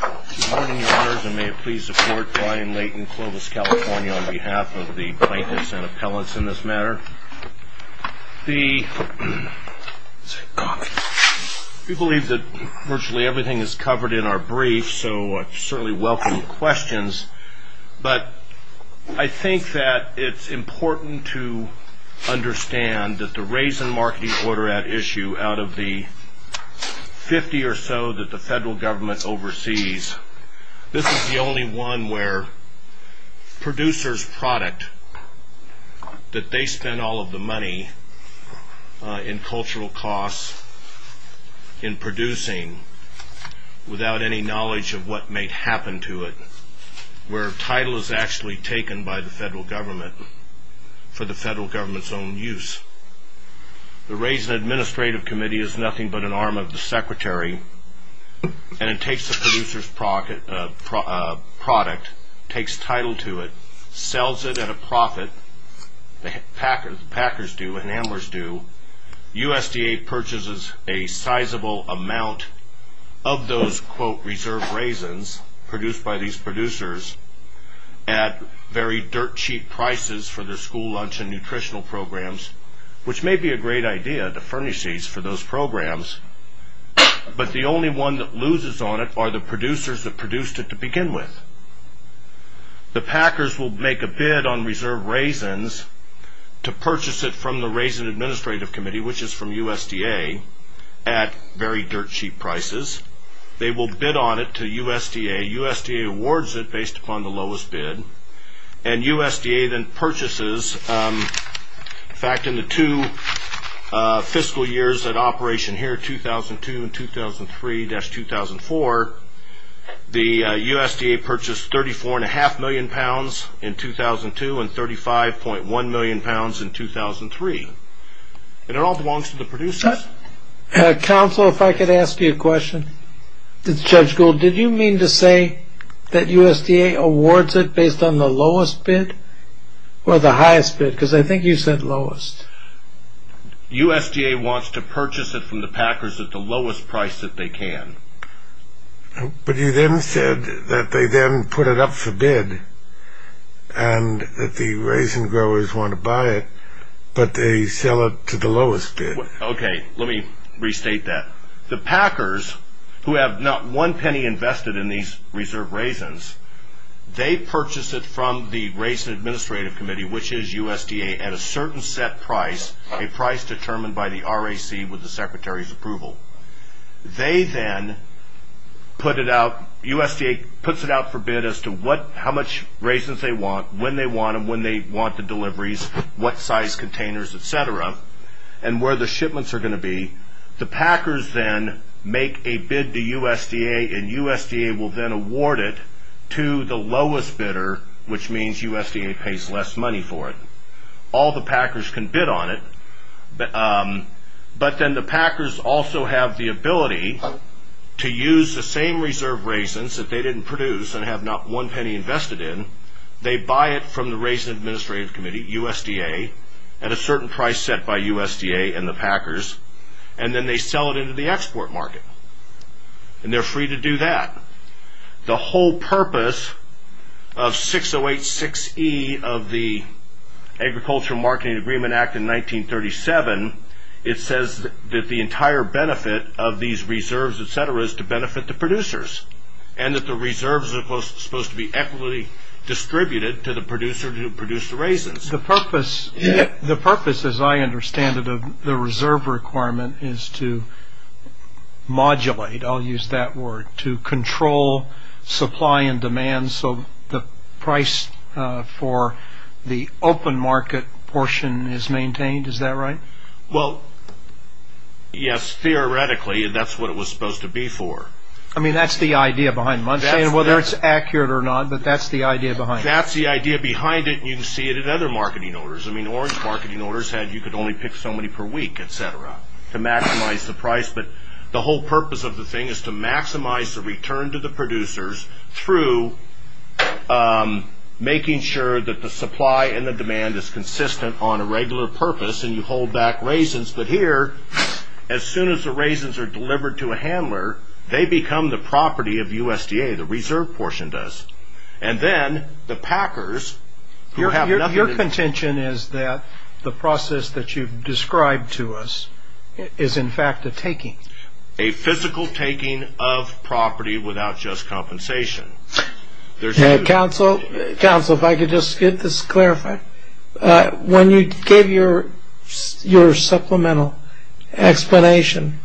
Good morning, Your Honors, and may it please the Court, Brian Layton, Clovis, California, on behalf of the plaintiffs and appellants in this matter. We believe that virtually everything is covered in our brief, so I certainly welcome your questions, but I think that it's important to understand that the Raisin Marketing Order Act issue, out of the 50 or so that the federal government oversees, this is the only one where producers' product, that they spend all of the money in cultural costs in producing without any knowledge of what may happen to it, where title is actually taken by the federal government for the federal government's own use. The Raisin Administrative Committee is nothing but an arm of the Secretary, and it takes the producer's product, takes title to it, sells it at a profit, the packers do and the handlers do, USDA purchases a sizable amount of those, quote, which may be a great idea, the furnishings for those programs, but the only one that loses on it are the producers that produced it to begin with. The packers will make a bid on reserved raisins to purchase it from the Raisin Administrative Committee, which is from USDA, at very dirt cheap prices. They will bid on it to USDA, USDA awards it based upon the lowest bid, and USDA then purchases, in fact, in the two fiscal years at operation here, 2002 and 2003-2004, the USDA purchased 34.5 million pounds in 2002 and 35.1 million pounds in 2003, and it all belongs to the producers. Counsel, if I could ask you a question. Judge Gould, did you mean to say that USDA awards it based on the lowest bid or the highest bid? Because I think you said lowest. USDA wants to purchase it from the packers at the lowest price that they can. But you then said that they then put it up for bid and that the raisin growers want to buy it, but they sell it to the lowest bid. Okay, let me restate that. The packers, who have not one penny invested in these reserved raisins, they purchase it from the Raisin Administrative Committee, which is USDA, at a certain set price, a price determined by the RAC with the Secretary's approval. They then put it out, USDA puts it out for bid as to how much raisins they want, when they want them, when they want the deliveries, what size containers, etc., and where the shipments are going to be. The packers then make a bid to USDA, and USDA will then award it to the lowest bidder, which means USDA pays less money for it. All the packers can bid on it, but then the packers also have the ability to use the same reserved raisins that they didn't produce and have not one penny invested in. They buy it from the Raisin Administrative Committee, USDA, at a certain price set by USDA and the packers, and then they sell it into the export market, and they're free to do that. The whole purpose of 6086E of the Agricultural Marketing Agreement Act in 1937, it says that the entire benefit of these reserves, etc., is to benefit the producers, and that the reserves are supposed to be equitably distributed to the producer who produced the raisins. The purpose, as I understand it, of the reserve requirement is to modulate, I'll use that word, to control supply and demand, so the price for the open market portion is maintained, is that right? Well, yes, theoretically, that's what it was supposed to be for. I mean, that's the idea behind Monthly, and whether it's accurate or not, but that's the idea behind it. That's the idea behind it, and you can see it in other marketing orders. I mean, Orange Marketing Orders had you could only pick so many per week, etc., to maximize the price, but the whole purpose of the thing is to maximize the return to the producers through making sure that the supply and the demand is consistent on a regular purpose, and you hold back raisins, but here, as soon as the raisins are delivered to a handler, they become the property of USDA, the reserve portion does, and then the packers who have nothing to... Your contention is that the process that you've described to us is, in fact, a taking. A physical taking of property without just compensation. When you gave your supplemental explanation,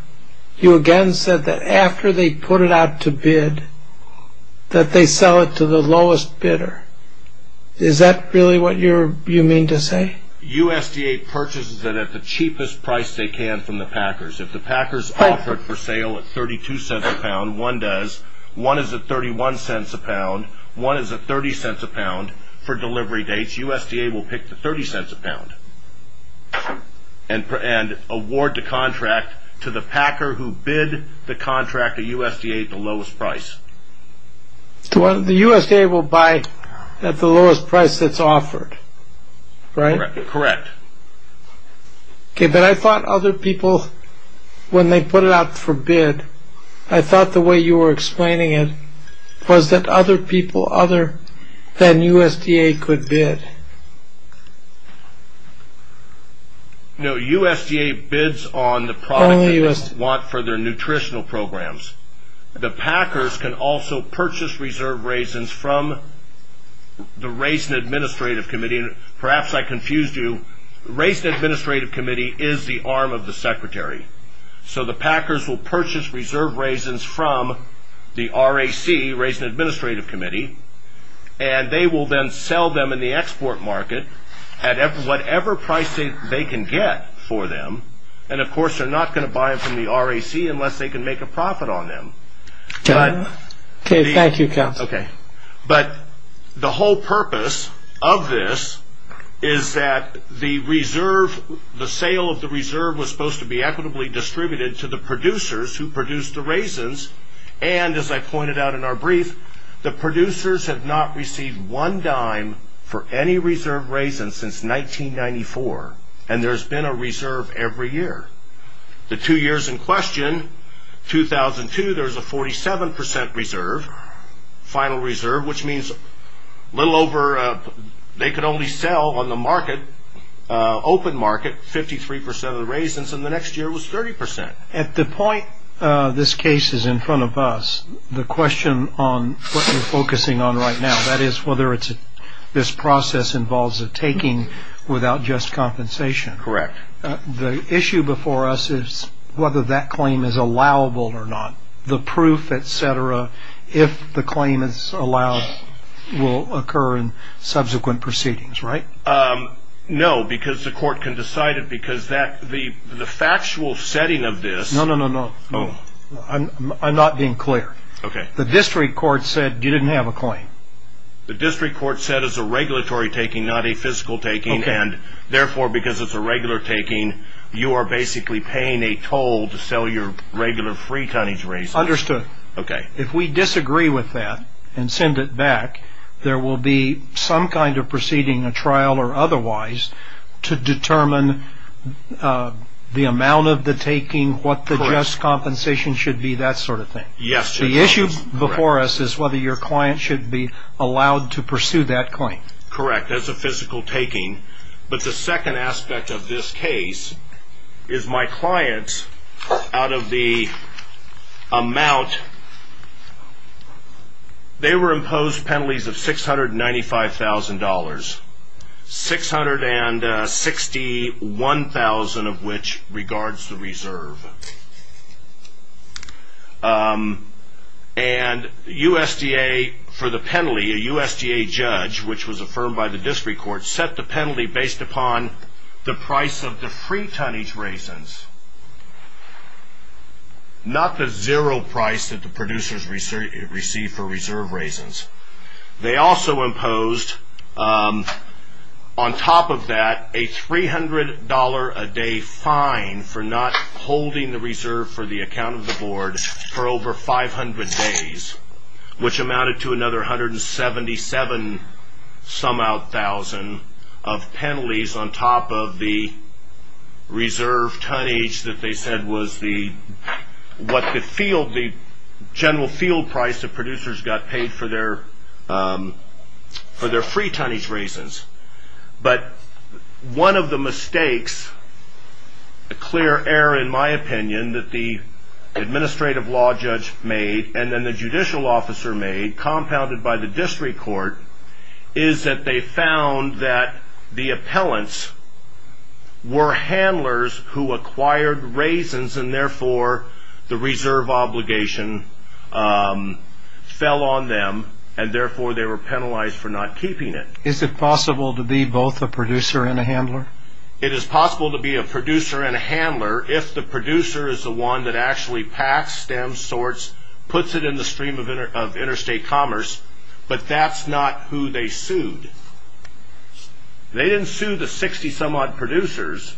you again said that after they put it out to bid, that they sell it to the lowest bidder. Is that really what you mean to say? USDA purchases it at the cheapest price they can from the packers. If the packers offer it for sale at $0.32 a pound, one does. One is at $0.31 a pound. One is at $0.30 a pound for delivery dates. USDA will pick the $0.30 a pound and award the contract to the packer who bid the contract to USDA at the lowest price. The USDA will buy at the lowest price that's offered, right? Correct. Okay, but I thought other people, when they put it out for bid, I thought the way you were explaining it was that other people other than USDA could bid. No, USDA bids on the product they want for their nutritional programs. The packers can also purchase reserve raisins from the Raisin Administrative Committee. Perhaps I confused you. The Raisin Administrative Committee is the arm of the Secretary. The packers will purchase reserve raisins from the RAC, Raisin Administrative Committee, and they will then sell them in the export market at whatever price they can get for them. Of course, they're not going to buy them from the RAC unless they can make a profit on them. Thank you, counsel. The whole purpose of this is that the sale of the reserve was supposed to be equitably distributed to the producers who produced the raisins. As I pointed out in our brief, the producers have not received one dime for any reserve raisin since 1994, and there's been a reserve every year. The two years in question, 2002, there's a 47% reserve, final reserve, which means they could only sell on the open market 53% of the raisins, and the next year it was 30%. At the point this case is in front of us, the question on what you're focusing on right now, that is whether this process involves a taking without just compensation. Correct. The issue before us is whether that claim is allowable or not. The proof, et cetera, if the claim is allowed, will occur in subsequent proceedings, right? No, because the court can decide it because the factual setting of this... No, no, no, no. I'm not being clear. Okay. The district court said you didn't have a claim. The district court said it's a regulatory taking, not a physical taking, and therefore, because it's a regular taking, you are basically paying a toll to sell your regular free tonnage raisins. Understood. Okay. If we disagree with that and send it back, there will be some kind of proceeding, a trial or otherwise, to determine the amount of the taking, what the just compensation should be, that sort of thing. Yes. The issue before us is whether your client should be allowed to pursue that claim. Correct. That's a physical taking. But the second aspect of this case is my clients, out of the amount, they were imposed penalties of $695,000, $661,000 of which regards the reserve. And USDA, for the penalty, a USDA judge, which was affirmed by the district court, set the penalty based upon the price of the free tonnage raisins, not the zero price that the producers receive for reserve raisins. They also imposed, on top of that, a $300 a day fine for not holding the reserve for the account of the board for over 500 days, which amounted to another $177,000 of penalties on top of the reserve tonnage that they said was the, what the field, the general field price the producers got paid for their free tonnage raisins. But one of the mistakes, a clear error in my opinion, that the administrative law judge made and then the judicial officer made, compounded by the district court, is that they found that the appellants were handlers who acquired raisins and therefore the reserve obligation fell on them and therefore they were penalized for not keeping it. Is it possible to be both a producer and a handler? It is possible to be a producer and a handler if the producer is the one that actually packs, stems, sorts, puts it in the stream of interstate commerce, but that's not who they sued. They didn't sue the 60 some odd producers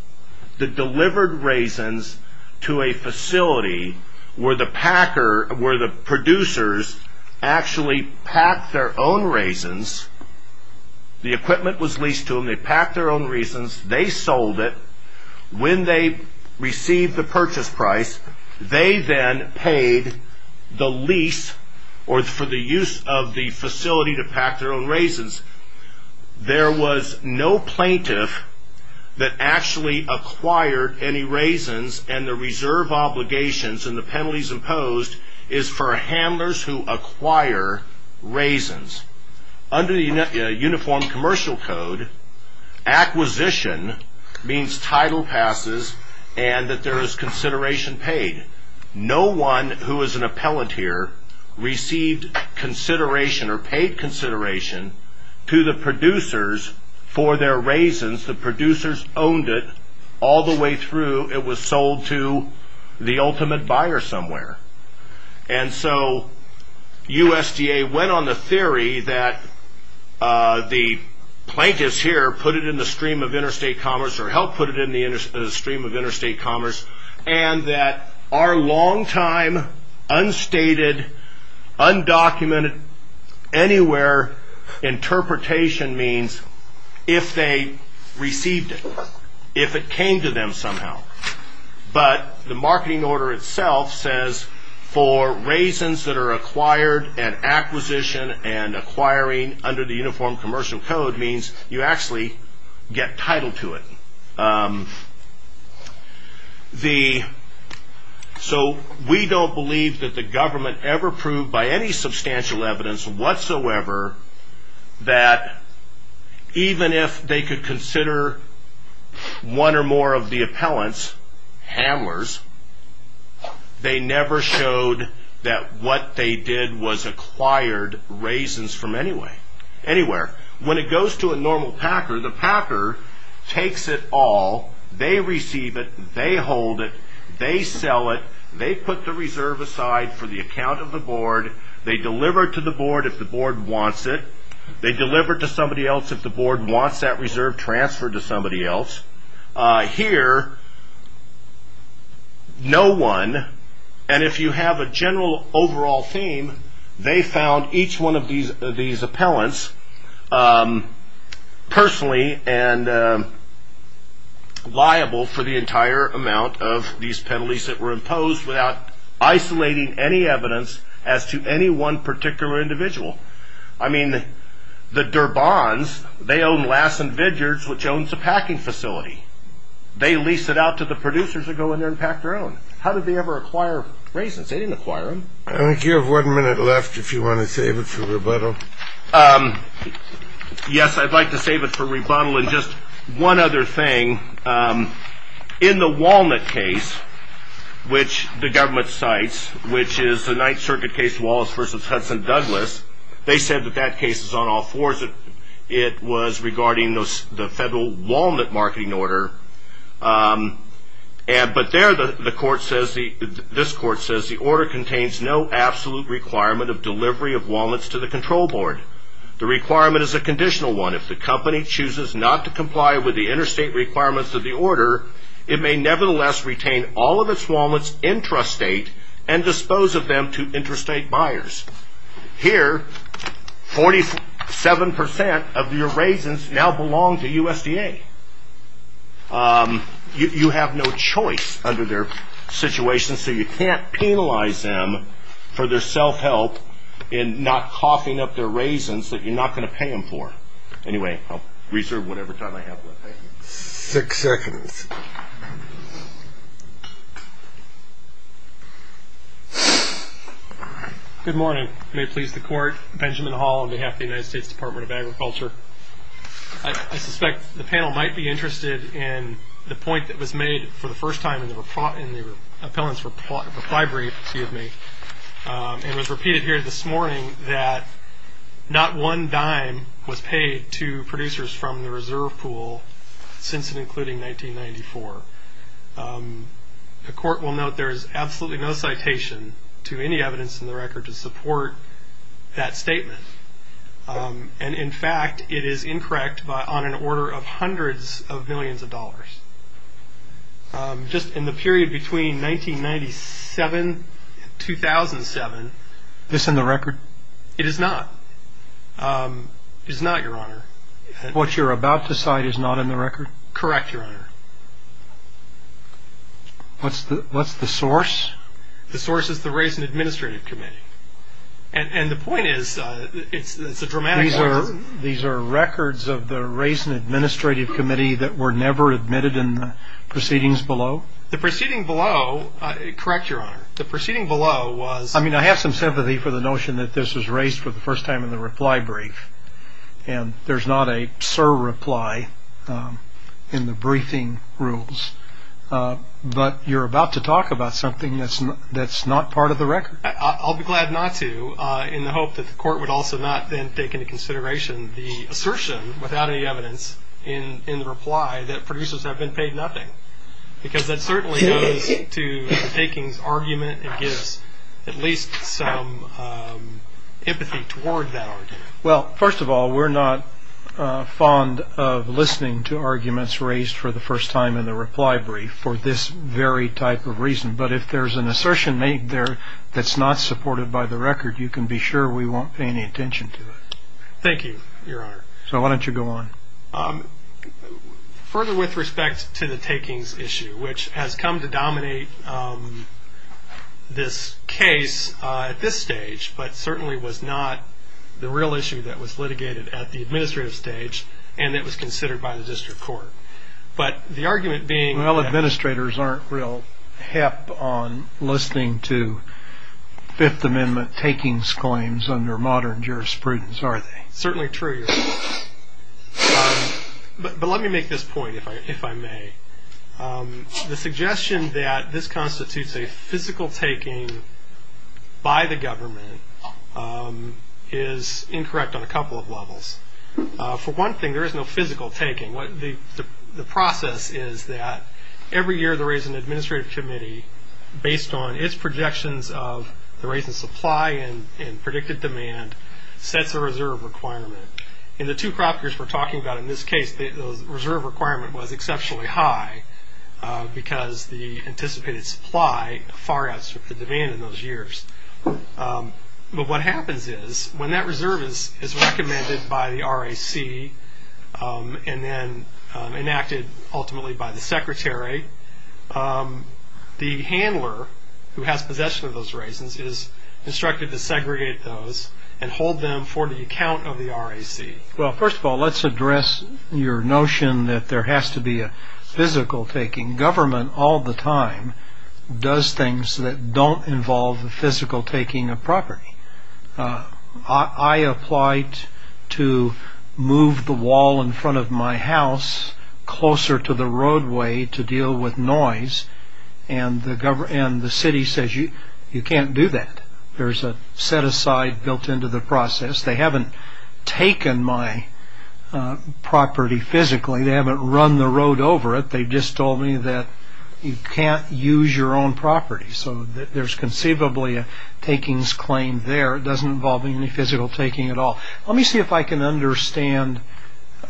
that delivered raisins to a facility where the packer, where the producers actually packed their own raisins. The equipment was leased to them, they packed their own raisins, they sold it. When they received the purchase price, they then paid the lease or for the use of the facility to pack their own raisins. There was no plaintiff that actually acquired any raisins and the reserve obligations and the penalties imposed is for handlers who acquire raisins. Under the Uniform Commercial Code, acquisition means title passes and that there is consideration paid. No one who is an appellant here received consideration or paid consideration to the producers for their raisins. The producers owned it all the way through. It was sold to the ultimate buyer somewhere. USDA went on the theory that the plaintiffs here put it in the stream of interstate commerce and that our long time, unstated, undocumented, anywhere interpretation means if they received it, if it came to them somehow, but the marketing order itself says for raisins that are acquired and acquisition and acquiring under the Uniform Commercial Code means you actually get title to it. We don't believe that the government ever proved by any substantial evidence whatsoever that even if they could consider one or more of the appellants handlers, they never showed that what they did was acquired raisins from anywhere. When it goes to a normal packer, the packer takes it all. They receive it. They hold it. They sell it. They put the reserve aside for the account of the board. They deliver it to the board if the board wants it. They deliver it to somebody else if the board wants that reserve transferred to somebody else. Here, no one, and if you have a general overall theme, they found each one of these appellants personally and liable for the entire amount of these penalties that were imposed without isolating any evidence as to any one particular individual. I mean, the Durbons, they own Lassen Vigards, which owns a packing facility. They lease it out to the producers that go in there and pack their own. How did they ever acquire raisins? They didn't acquire them. I think you have one minute left if you want to save it for rebuttal. Yes, I'd like to save it for rebuttal. And just one other thing, in the Walnut case, which the government cites, which is the Ninth Circuit case Wallace v. Hudson-Douglas, they said that that case is on all fours. It was regarding the federal Walnut marketing order. But there the court says, this court says, the order contains no absolute requirement of delivery of walnuts to the control board. The requirement is a conditional one. If the company chooses not to comply with the interstate requirements of the order, it may nevertheless retain all of its walnuts intrastate and dispose of them to interstate buyers. Here, 47% of your raisins now belong to USDA. You have no choice under their situation, so you can't penalize them for their self-help in not coughing up their raisins that you're not going to pay them for. Anyway, I'll reserve whatever time I have left. Six seconds. Good morning. May it please the Court, Benjamin Hall on behalf of the United States Department of Agriculture. I suspect the panel might be interested in the point that was made for the first time in the appellant's reply brief, and was repeated here this morning, that not one dime was paid to producers from the reserve pool since and including 1994. The court will note there is absolutely no citation to any evidence in the record to support that statement. And in fact, it is incorrect on an order of hundreds of millions of dollars. Just in the period between 1997 and 2007. Is this in the record? It is not. It is not, Your Honor. What you're about to cite is not in the record? Correct, Your Honor. What's the source? The source is the Raisin Administrative Committee. And the point is, it's a dramatic loss. These are records of the Raisin Administrative Committee that were never admitted in the proceedings below? The proceeding below, correct, Your Honor. The proceeding below was. I mean, I have some sympathy for the notion that this was raised for the first time in the reply brief. And there's not a surreply in the briefing rules. But you're about to talk about something that's not part of the record. I'll be glad not to in the hope that the court would also not then take into consideration the assertion without any evidence in the reply that producers have been paid nothing. Because that certainly goes to the takings argument and gives at least some empathy toward that argument. Well, first of all, we're not fond of listening to arguments raised for the first time in the reply brief for this very type of reason. But if there's an assertion made there that's not supported by the record, you can be sure we won't pay any attention to it. Thank you, Your Honor. So why don't you go on. Further with respect to the takings issue, which has come to dominate this case at this stage, but certainly was not the real issue that was litigated at the administrative stage and that was considered by the district court. But the argument being. Well, administrators aren't real hip on listening to Fifth Amendment takings claims under modern jurisprudence, are they? Certainly true, Your Honor. But let me make this point, if I may. The suggestion that this constitutes a physical taking by the government is incorrect on a couple of levels. For one thing, there is no physical taking. The process is that every year the Raisin Administrative Committee, based on its projections of the Raisin supply and predicted demand, sets a reserve requirement. In the two crop years we're talking about in this case, the reserve requirement was exceptionally high because the anticipated supply far outstripped the demand in those years. But what happens is when that reserve is recommended by the RAC and then enacted ultimately by the secretary, the handler who has possession of those raisins is instructed to segregate those and hold them for the account of the RAC. Well, first of all, let's address your notion that there has to be a physical taking. Government all the time does things that don't involve the physical taking of property. I applied to move the wall in front of my house closer to the roadway to deal with noise, and the city says you can't do that. There's a set aside built into the process. They haven't taken my property physically. They haven't run the road over it. They just told me that you can't use your own property. So there's conceivably a takings claim there. It doesn't involve any physical taking at all. Let me see if I can understand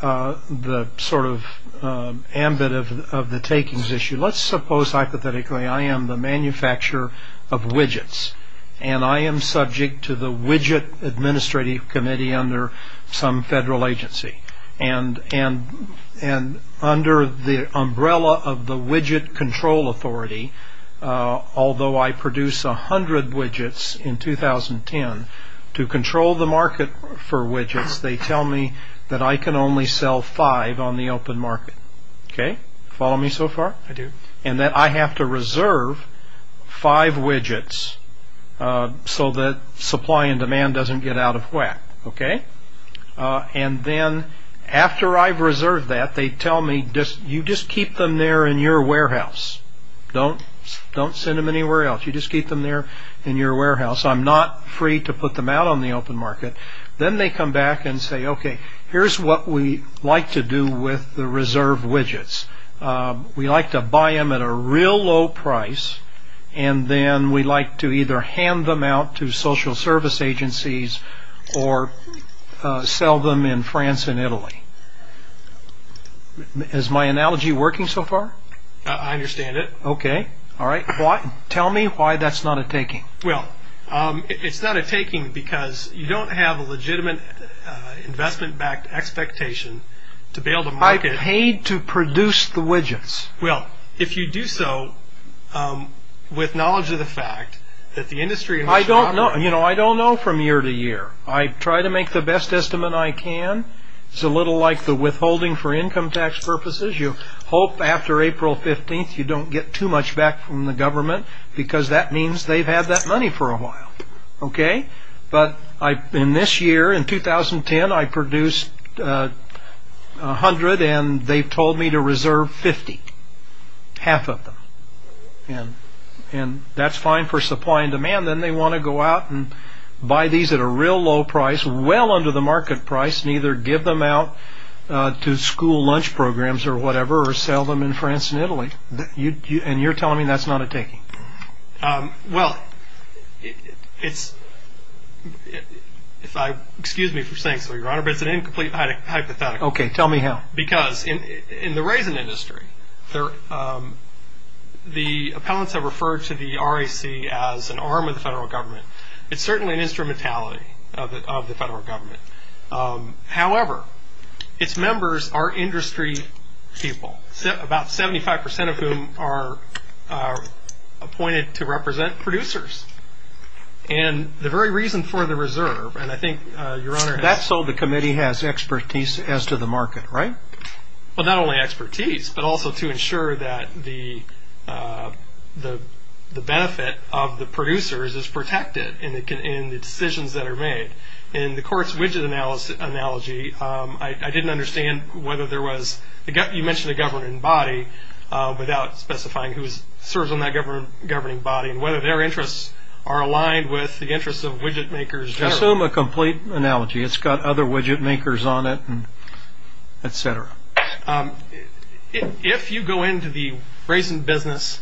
the sort of ambit of the takings issue. Let's suppose hypothetically I am the manufacturer of widgets, and I am subject to the widget administrative committee under some federal agency. And under the umbrella of the widget control authority, although I produce 100 widgets in 2010, to control the market for widgets, they tell me that I can only sell five on the open market. Follow me so far? I do. And that I have to reserve five widgets so that supply and demand doesn't get out of whack. And then after I've reserved that, they tell me you just keep them there in your warehouse. Don't send them anywhere else. You just keep them there in your warehouse. I'm not free to put them out on the open market. Then they come back and say, okay, here's what we like to do with the reserved widgets. We like to buy them at a real low price, and then we like to either hand them out to social service agencies or sell them in France and Italy. Is my analogy working so far? I understand it. Okay. All right. Tell me why that's not a taking. Well, it's not a taking because you don't have a legitimate investment-backed expectation to be able to market. I paid to produce the widgets. Well, if you do so with knowledge of the fact that the industry- I don't know from year to year. I try to make the best estimate I can. It's a little like the withholding for income tax purposes. You hope after April 15th you don't get too much back from the government because that means they've had that money for a while. But in this year, in 2010, I produced 100, and they told me to reserve 50, half of them. That's fine for supply and demand. Then they want to go out and buy these at a real low price, well under the market price, and either give them out to school lunch programs or whatever or sell them in France and Italy. You're telling me that's not a taking. Well, it's-excuse me for saying so, Your Honor, but it's an incomplete hypothetical. Okay, tell me how. Because in the raisin industry, the appellants have referred to the RAC as an arm of the federal government. It's certainly an instrumentality of the federal government. However, its members are industry people, about 75% of whom are appointed to represent producers. And the very reason for the reserve, and I think Your Honor has- That's so the committee has expertise as to the market, right? Well, not only expertise, but also to ensure that the benefit of the producers is protected in the decisions that are made. In the court's widget analogy, I didn't understand whether there was- you mentioned a governing body without specifying who serves on that governing body and whether their interests are aligned with the interests of widget makers generally. Assume a complete analogy. It's got other widget makers on it, et cetera. If you go into the raisin business,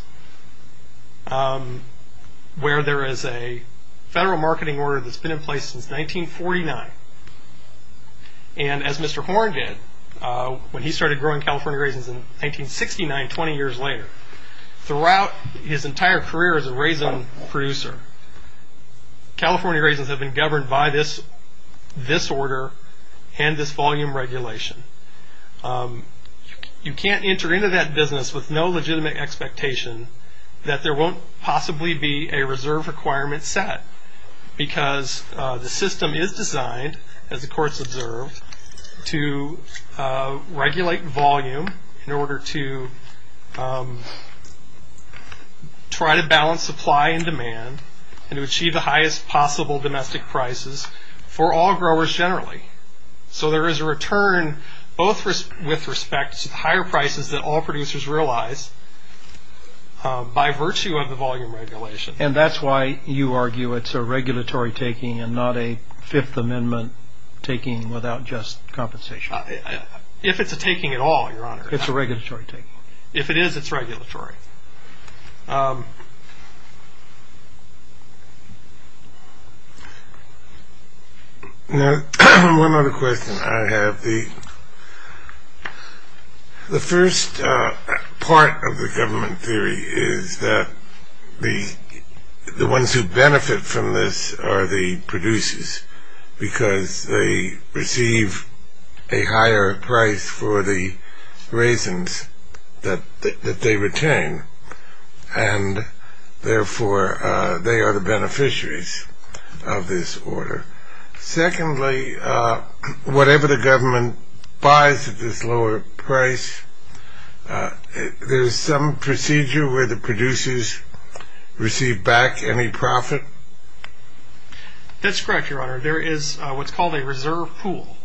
where there is a federal marketing order that's been in place since 1949, and as Mr. Horn did, when he started growing California raisins in 1969, 20 years later, throughout his entire career as a raisin producer, California raisins have been governed by this order and this volume regulation. You can't enter into that business with no legitimate expectation that there won't possibly be a reserve requirement set because the system is designed, as the courts observe, to regulate volume in order to try to balance supply and demand and to achieve the highest possible domestic prices for all growers generally. So there is a return both with respect to the higher prices that all producers realize by virtue of the volume regulation. And that's why you argue it's a regulatory taking and not a Fifth Amendment taking without just compensation. If it's a taking at all, Your Honor. It's a regulatory taking. If it is, it's regulatory. Now, one other question I have. The first part of the government theory is that the ones who benefit from this are the producers because they receive a higher price for the raisins that they retain, and therefore they are the beneficiaries of this order. Secondly, whatever the government buys at this lower price, there is some procedure where the producers receive back any profit? That's correct, Your Honor. There is what's called a reserve pool.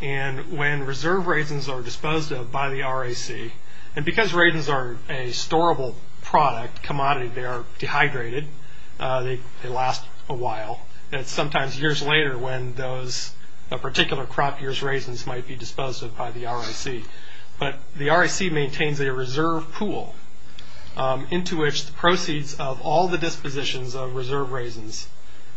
And when reserve raisins are disposed of by the RAC, and because raisins are a storable product, commodity, they are dehydrated, they last a while. It's sometimes years later when those particular crop years raisins might be disposed of by the RAC. But the RAC maintains a reserve pool into which the proceeds of all the dispositions of reserve raisins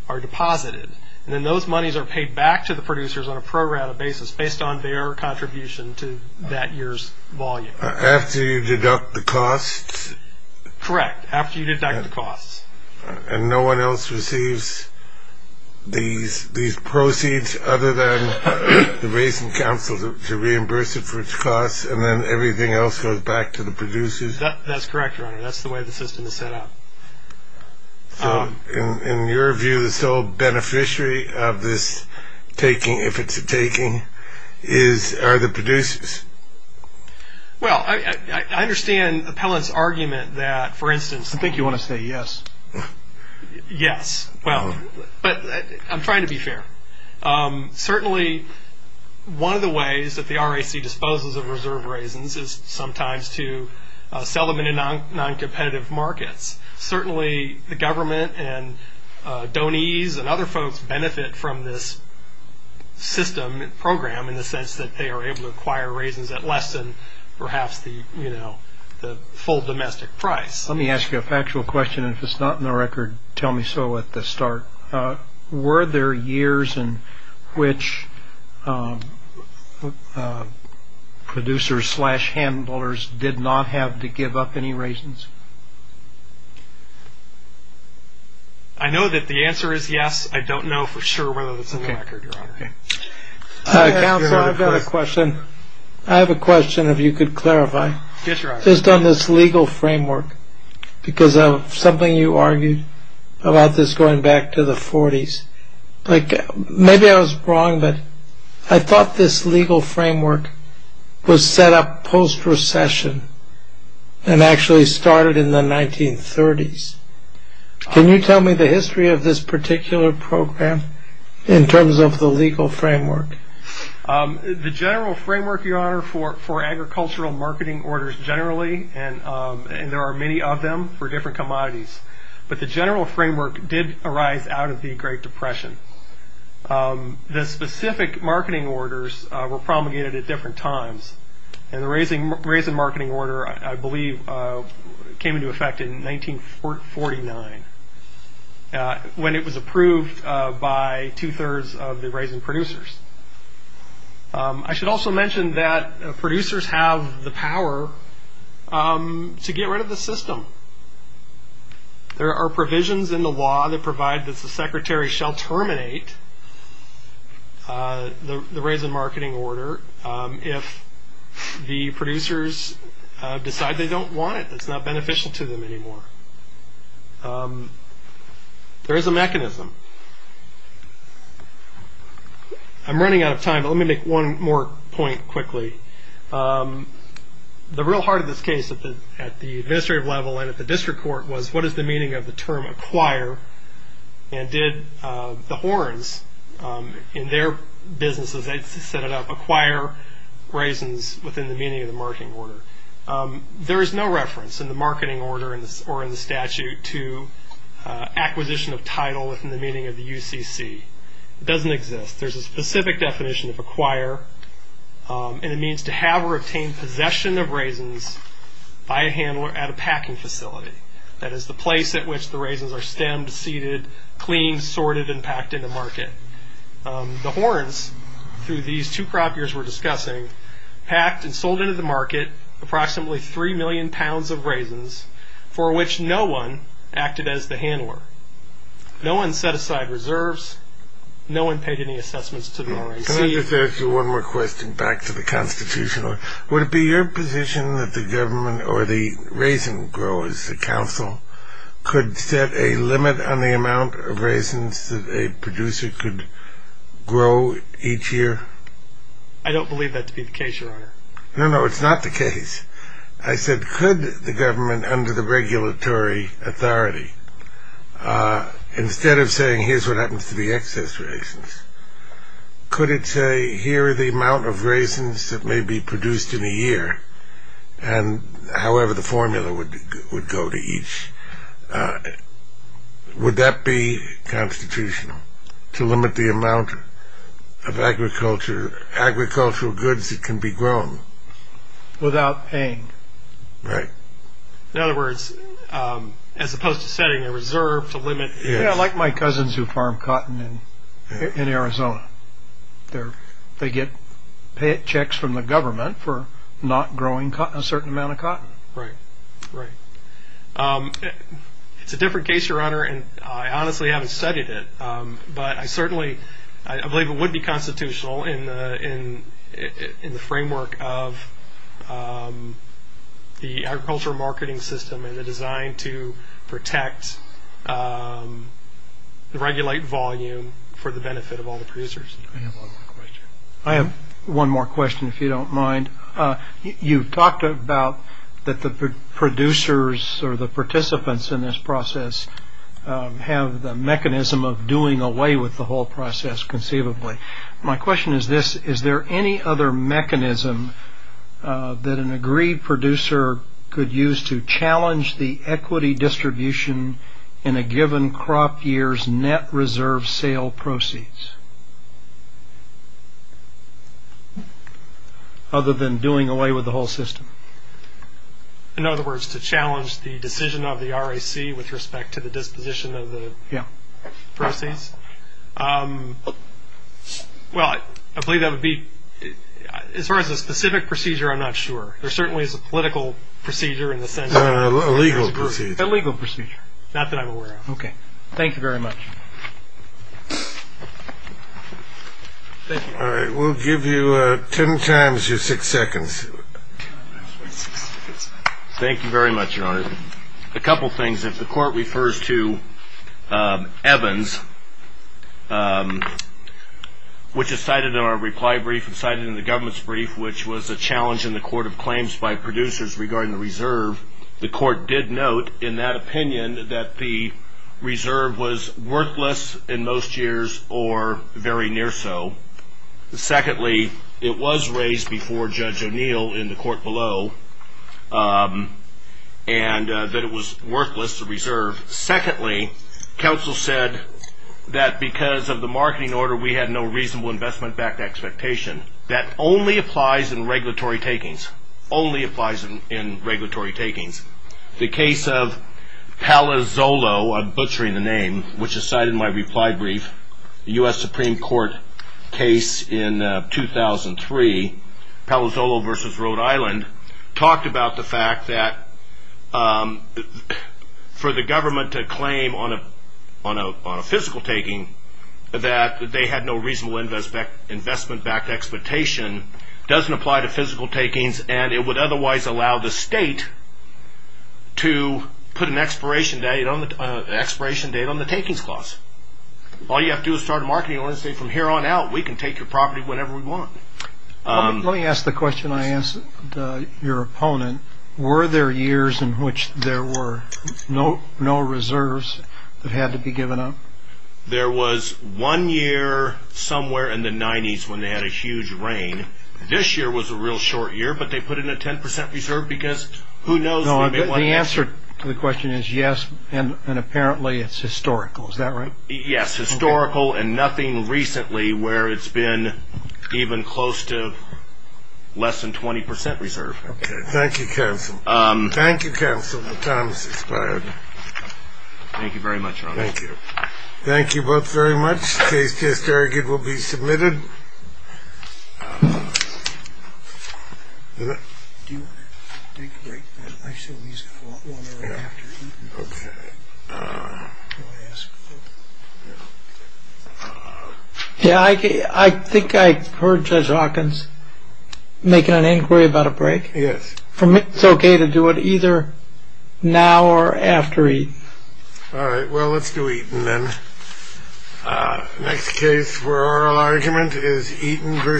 are deposited. And then those monies are paid back to the producers on a pro rata basis based on their contribution to that year's volume. After you deduct the costs? And no one else receives these proceeds other than the Raisin Council to reimburse it for its costs, and then everything else goes back to the producers? That's correct, Your Honor. That's the way the system is set up. So in your view, the sole beneficiary of this taking, if it's a taking, are the producers? Well, I understand Appellant's argument that, for instance... I think you want to say yes. Yes. Well, I'm trying to be fair. Certainly one of the ways that the RAC disposes of reserve raisins is sometimes to sell them in non-competitive markets. Certainly the government and donees and other folks benefit from this system and program in the sense that they are able to acquire raisins at less than perhaps the full domestic price. Let me ask you a factual question, and if it's not in the record, tell me so at the start. Were there years in which producers slash handlers did not have to give up any raisins? I know that the answer is yes. I don't know for sure whether it's in the record, Your Honor. Counselor, I've got a question. I have a question, if you could clarify. Yes, Your Honor. Just on this legal framework, because of something you argued about this going back to the 40s. Maybe I was wrong, but I thought this legal framework was set up post-recession and actually started in the 1930s. Can you tell me the history of this particular program in terms of the legal framework? The general framework, Your Honor, for agricultural marketing orders generally, and there are many of them for different commodities, but the general framework did arise out of the Great Depression. The specific marketing orders were promulgated at different times, and the raisin marketing order, I believe, came into effect in 1949 when it was approved by two-thirds of the raisin producers. I should also mention that producers have the power to get rid of the system. There are provisions in the law that provide that the secretary shall terminate the raisin marketing order if the producers decide they don't want it. It's not beneficial to them anymore. There is a mechanism. I'm running out of time, but let me make one more point quickly. The real heart of this case at the administrative level and at the district court was, what is the meaning of the term acquire? and did the horns in their businesses, they set it up, acquire raisins within the meaning of the marketing order. There is no reference in the marketing order or in the statute to acquisition of title within the meaning of the UCC. It doesn't exist. There's a specific definition of acquire, and it means to have or obtain possession of raisins by a handler at a packing facility. That is the place at which the raisins are stemmed, seeded, cleaned, sorted, and packed into market. The horns, through these two crop years we're discussing, packed and sold into the market approximately 3 million pounds of raisins for which no one acted as the handler. No one set aside reserves. No one paid any assessments to the RNC. Can I just ask you one more question back to the Constitution? Would it be your position that the government or the raisin growers, the council, could set a limit on the amount of raisins that a producer could grow each year? I don't believe that to be the case, Your Honor. No, no, it's not the case. I said could the government under the regulatory authority, instead of saying here's what happens to the excess raisins, could it say here are the amount of raisins that may be produced in a year, and however the formula would go to each? Would that be constitutional to limit the amount of agricultural goods that can be grown? Without paying. Right. In other words, as opposed to setting a reserve to limit... Like my cousins who farm cotton in Arizona. They get paychecks from the government for not growing a certain amount of cotton. Right, right. It's a different case, Your Honor, and I honestly haven't studied it, but I certainly believe it would be constitutional in the framework of the agricultural marketing system and the design to protect, regulate volume for the benefit of all the producers. I have one more question. I have one more question if you don't mind. You talked about that the producers or the participants in this process have the mechanism of doing away with the whole process conceivably. My question is this, is there any other mechanism that an agreed producer could use to challenge the equity distribution in a given crop year's net reserve sale proceeds? Other than doing away with the whole system. In other words, to challenge the decision of the RAC with respect to the disposition of the proceeds? Yeah. As far as a specific procedure, I'm not sure. There certainly is a political procedure in the sense of... A legal procedure. A legal procedure. Not that I'm aware of. Okay. Thank you very much. All right. Thank you very much, Your Honor. A couple things. If the court refers to Evans, which is cited in our reply brief, and cited in the government's brief, which was a challenge in the court of claims by producers regarding the reserve, the court did note in that opinion that the reserve was worthless in most years or very near so. Secondly, it was raised before Judge O'Neill in the court below, and that it was worthless, the reserve. Secondly, counsel said that because of the marketing order, we had no reasonable investment-backed expectation. That only applies in regulatory takings. Only applies in regulatory takings. The case of Palazzolo, I'm butchering the name, which is cited in my reply brief, the U.S. Supreme Court case in 2003, Palazzolo v. Rhode Island, talked about the fact that for the government to claim on a physical taking that they had no reasonable investment-backed expectation doesn't apply to physical takings, and it would otherwise allow the state to put an expiration date on the takings clause. All you have to do is start a marketing order and say from here on out, we can take your property whenever we want. Let me ask the question I asked your opponent. Were there years in which there were no reserves that had to be given up? There was one year somewhere in the 90s when they had a huge rain. This year was a real short year, but they put in a 10% reserve because who knows? The answer to the question is yes, and apparently it's historical. Is that right? Yes, historical, and nothing recently where it's been even close to less than 20% reserve. Okay. Thank you, counsel. Thank you, counsel. The time has expired. Thank you very much, Your Honor. Thank you. Thank you both very much. The case, as just argued, will be submitted. Yeah, I think I heard Judge Hawkins making an inquiry about a break. Yes. For me, it's okay to do it either now or after. All right. Well, let's do it. Next case for oral argument is Eaton v. Siemens.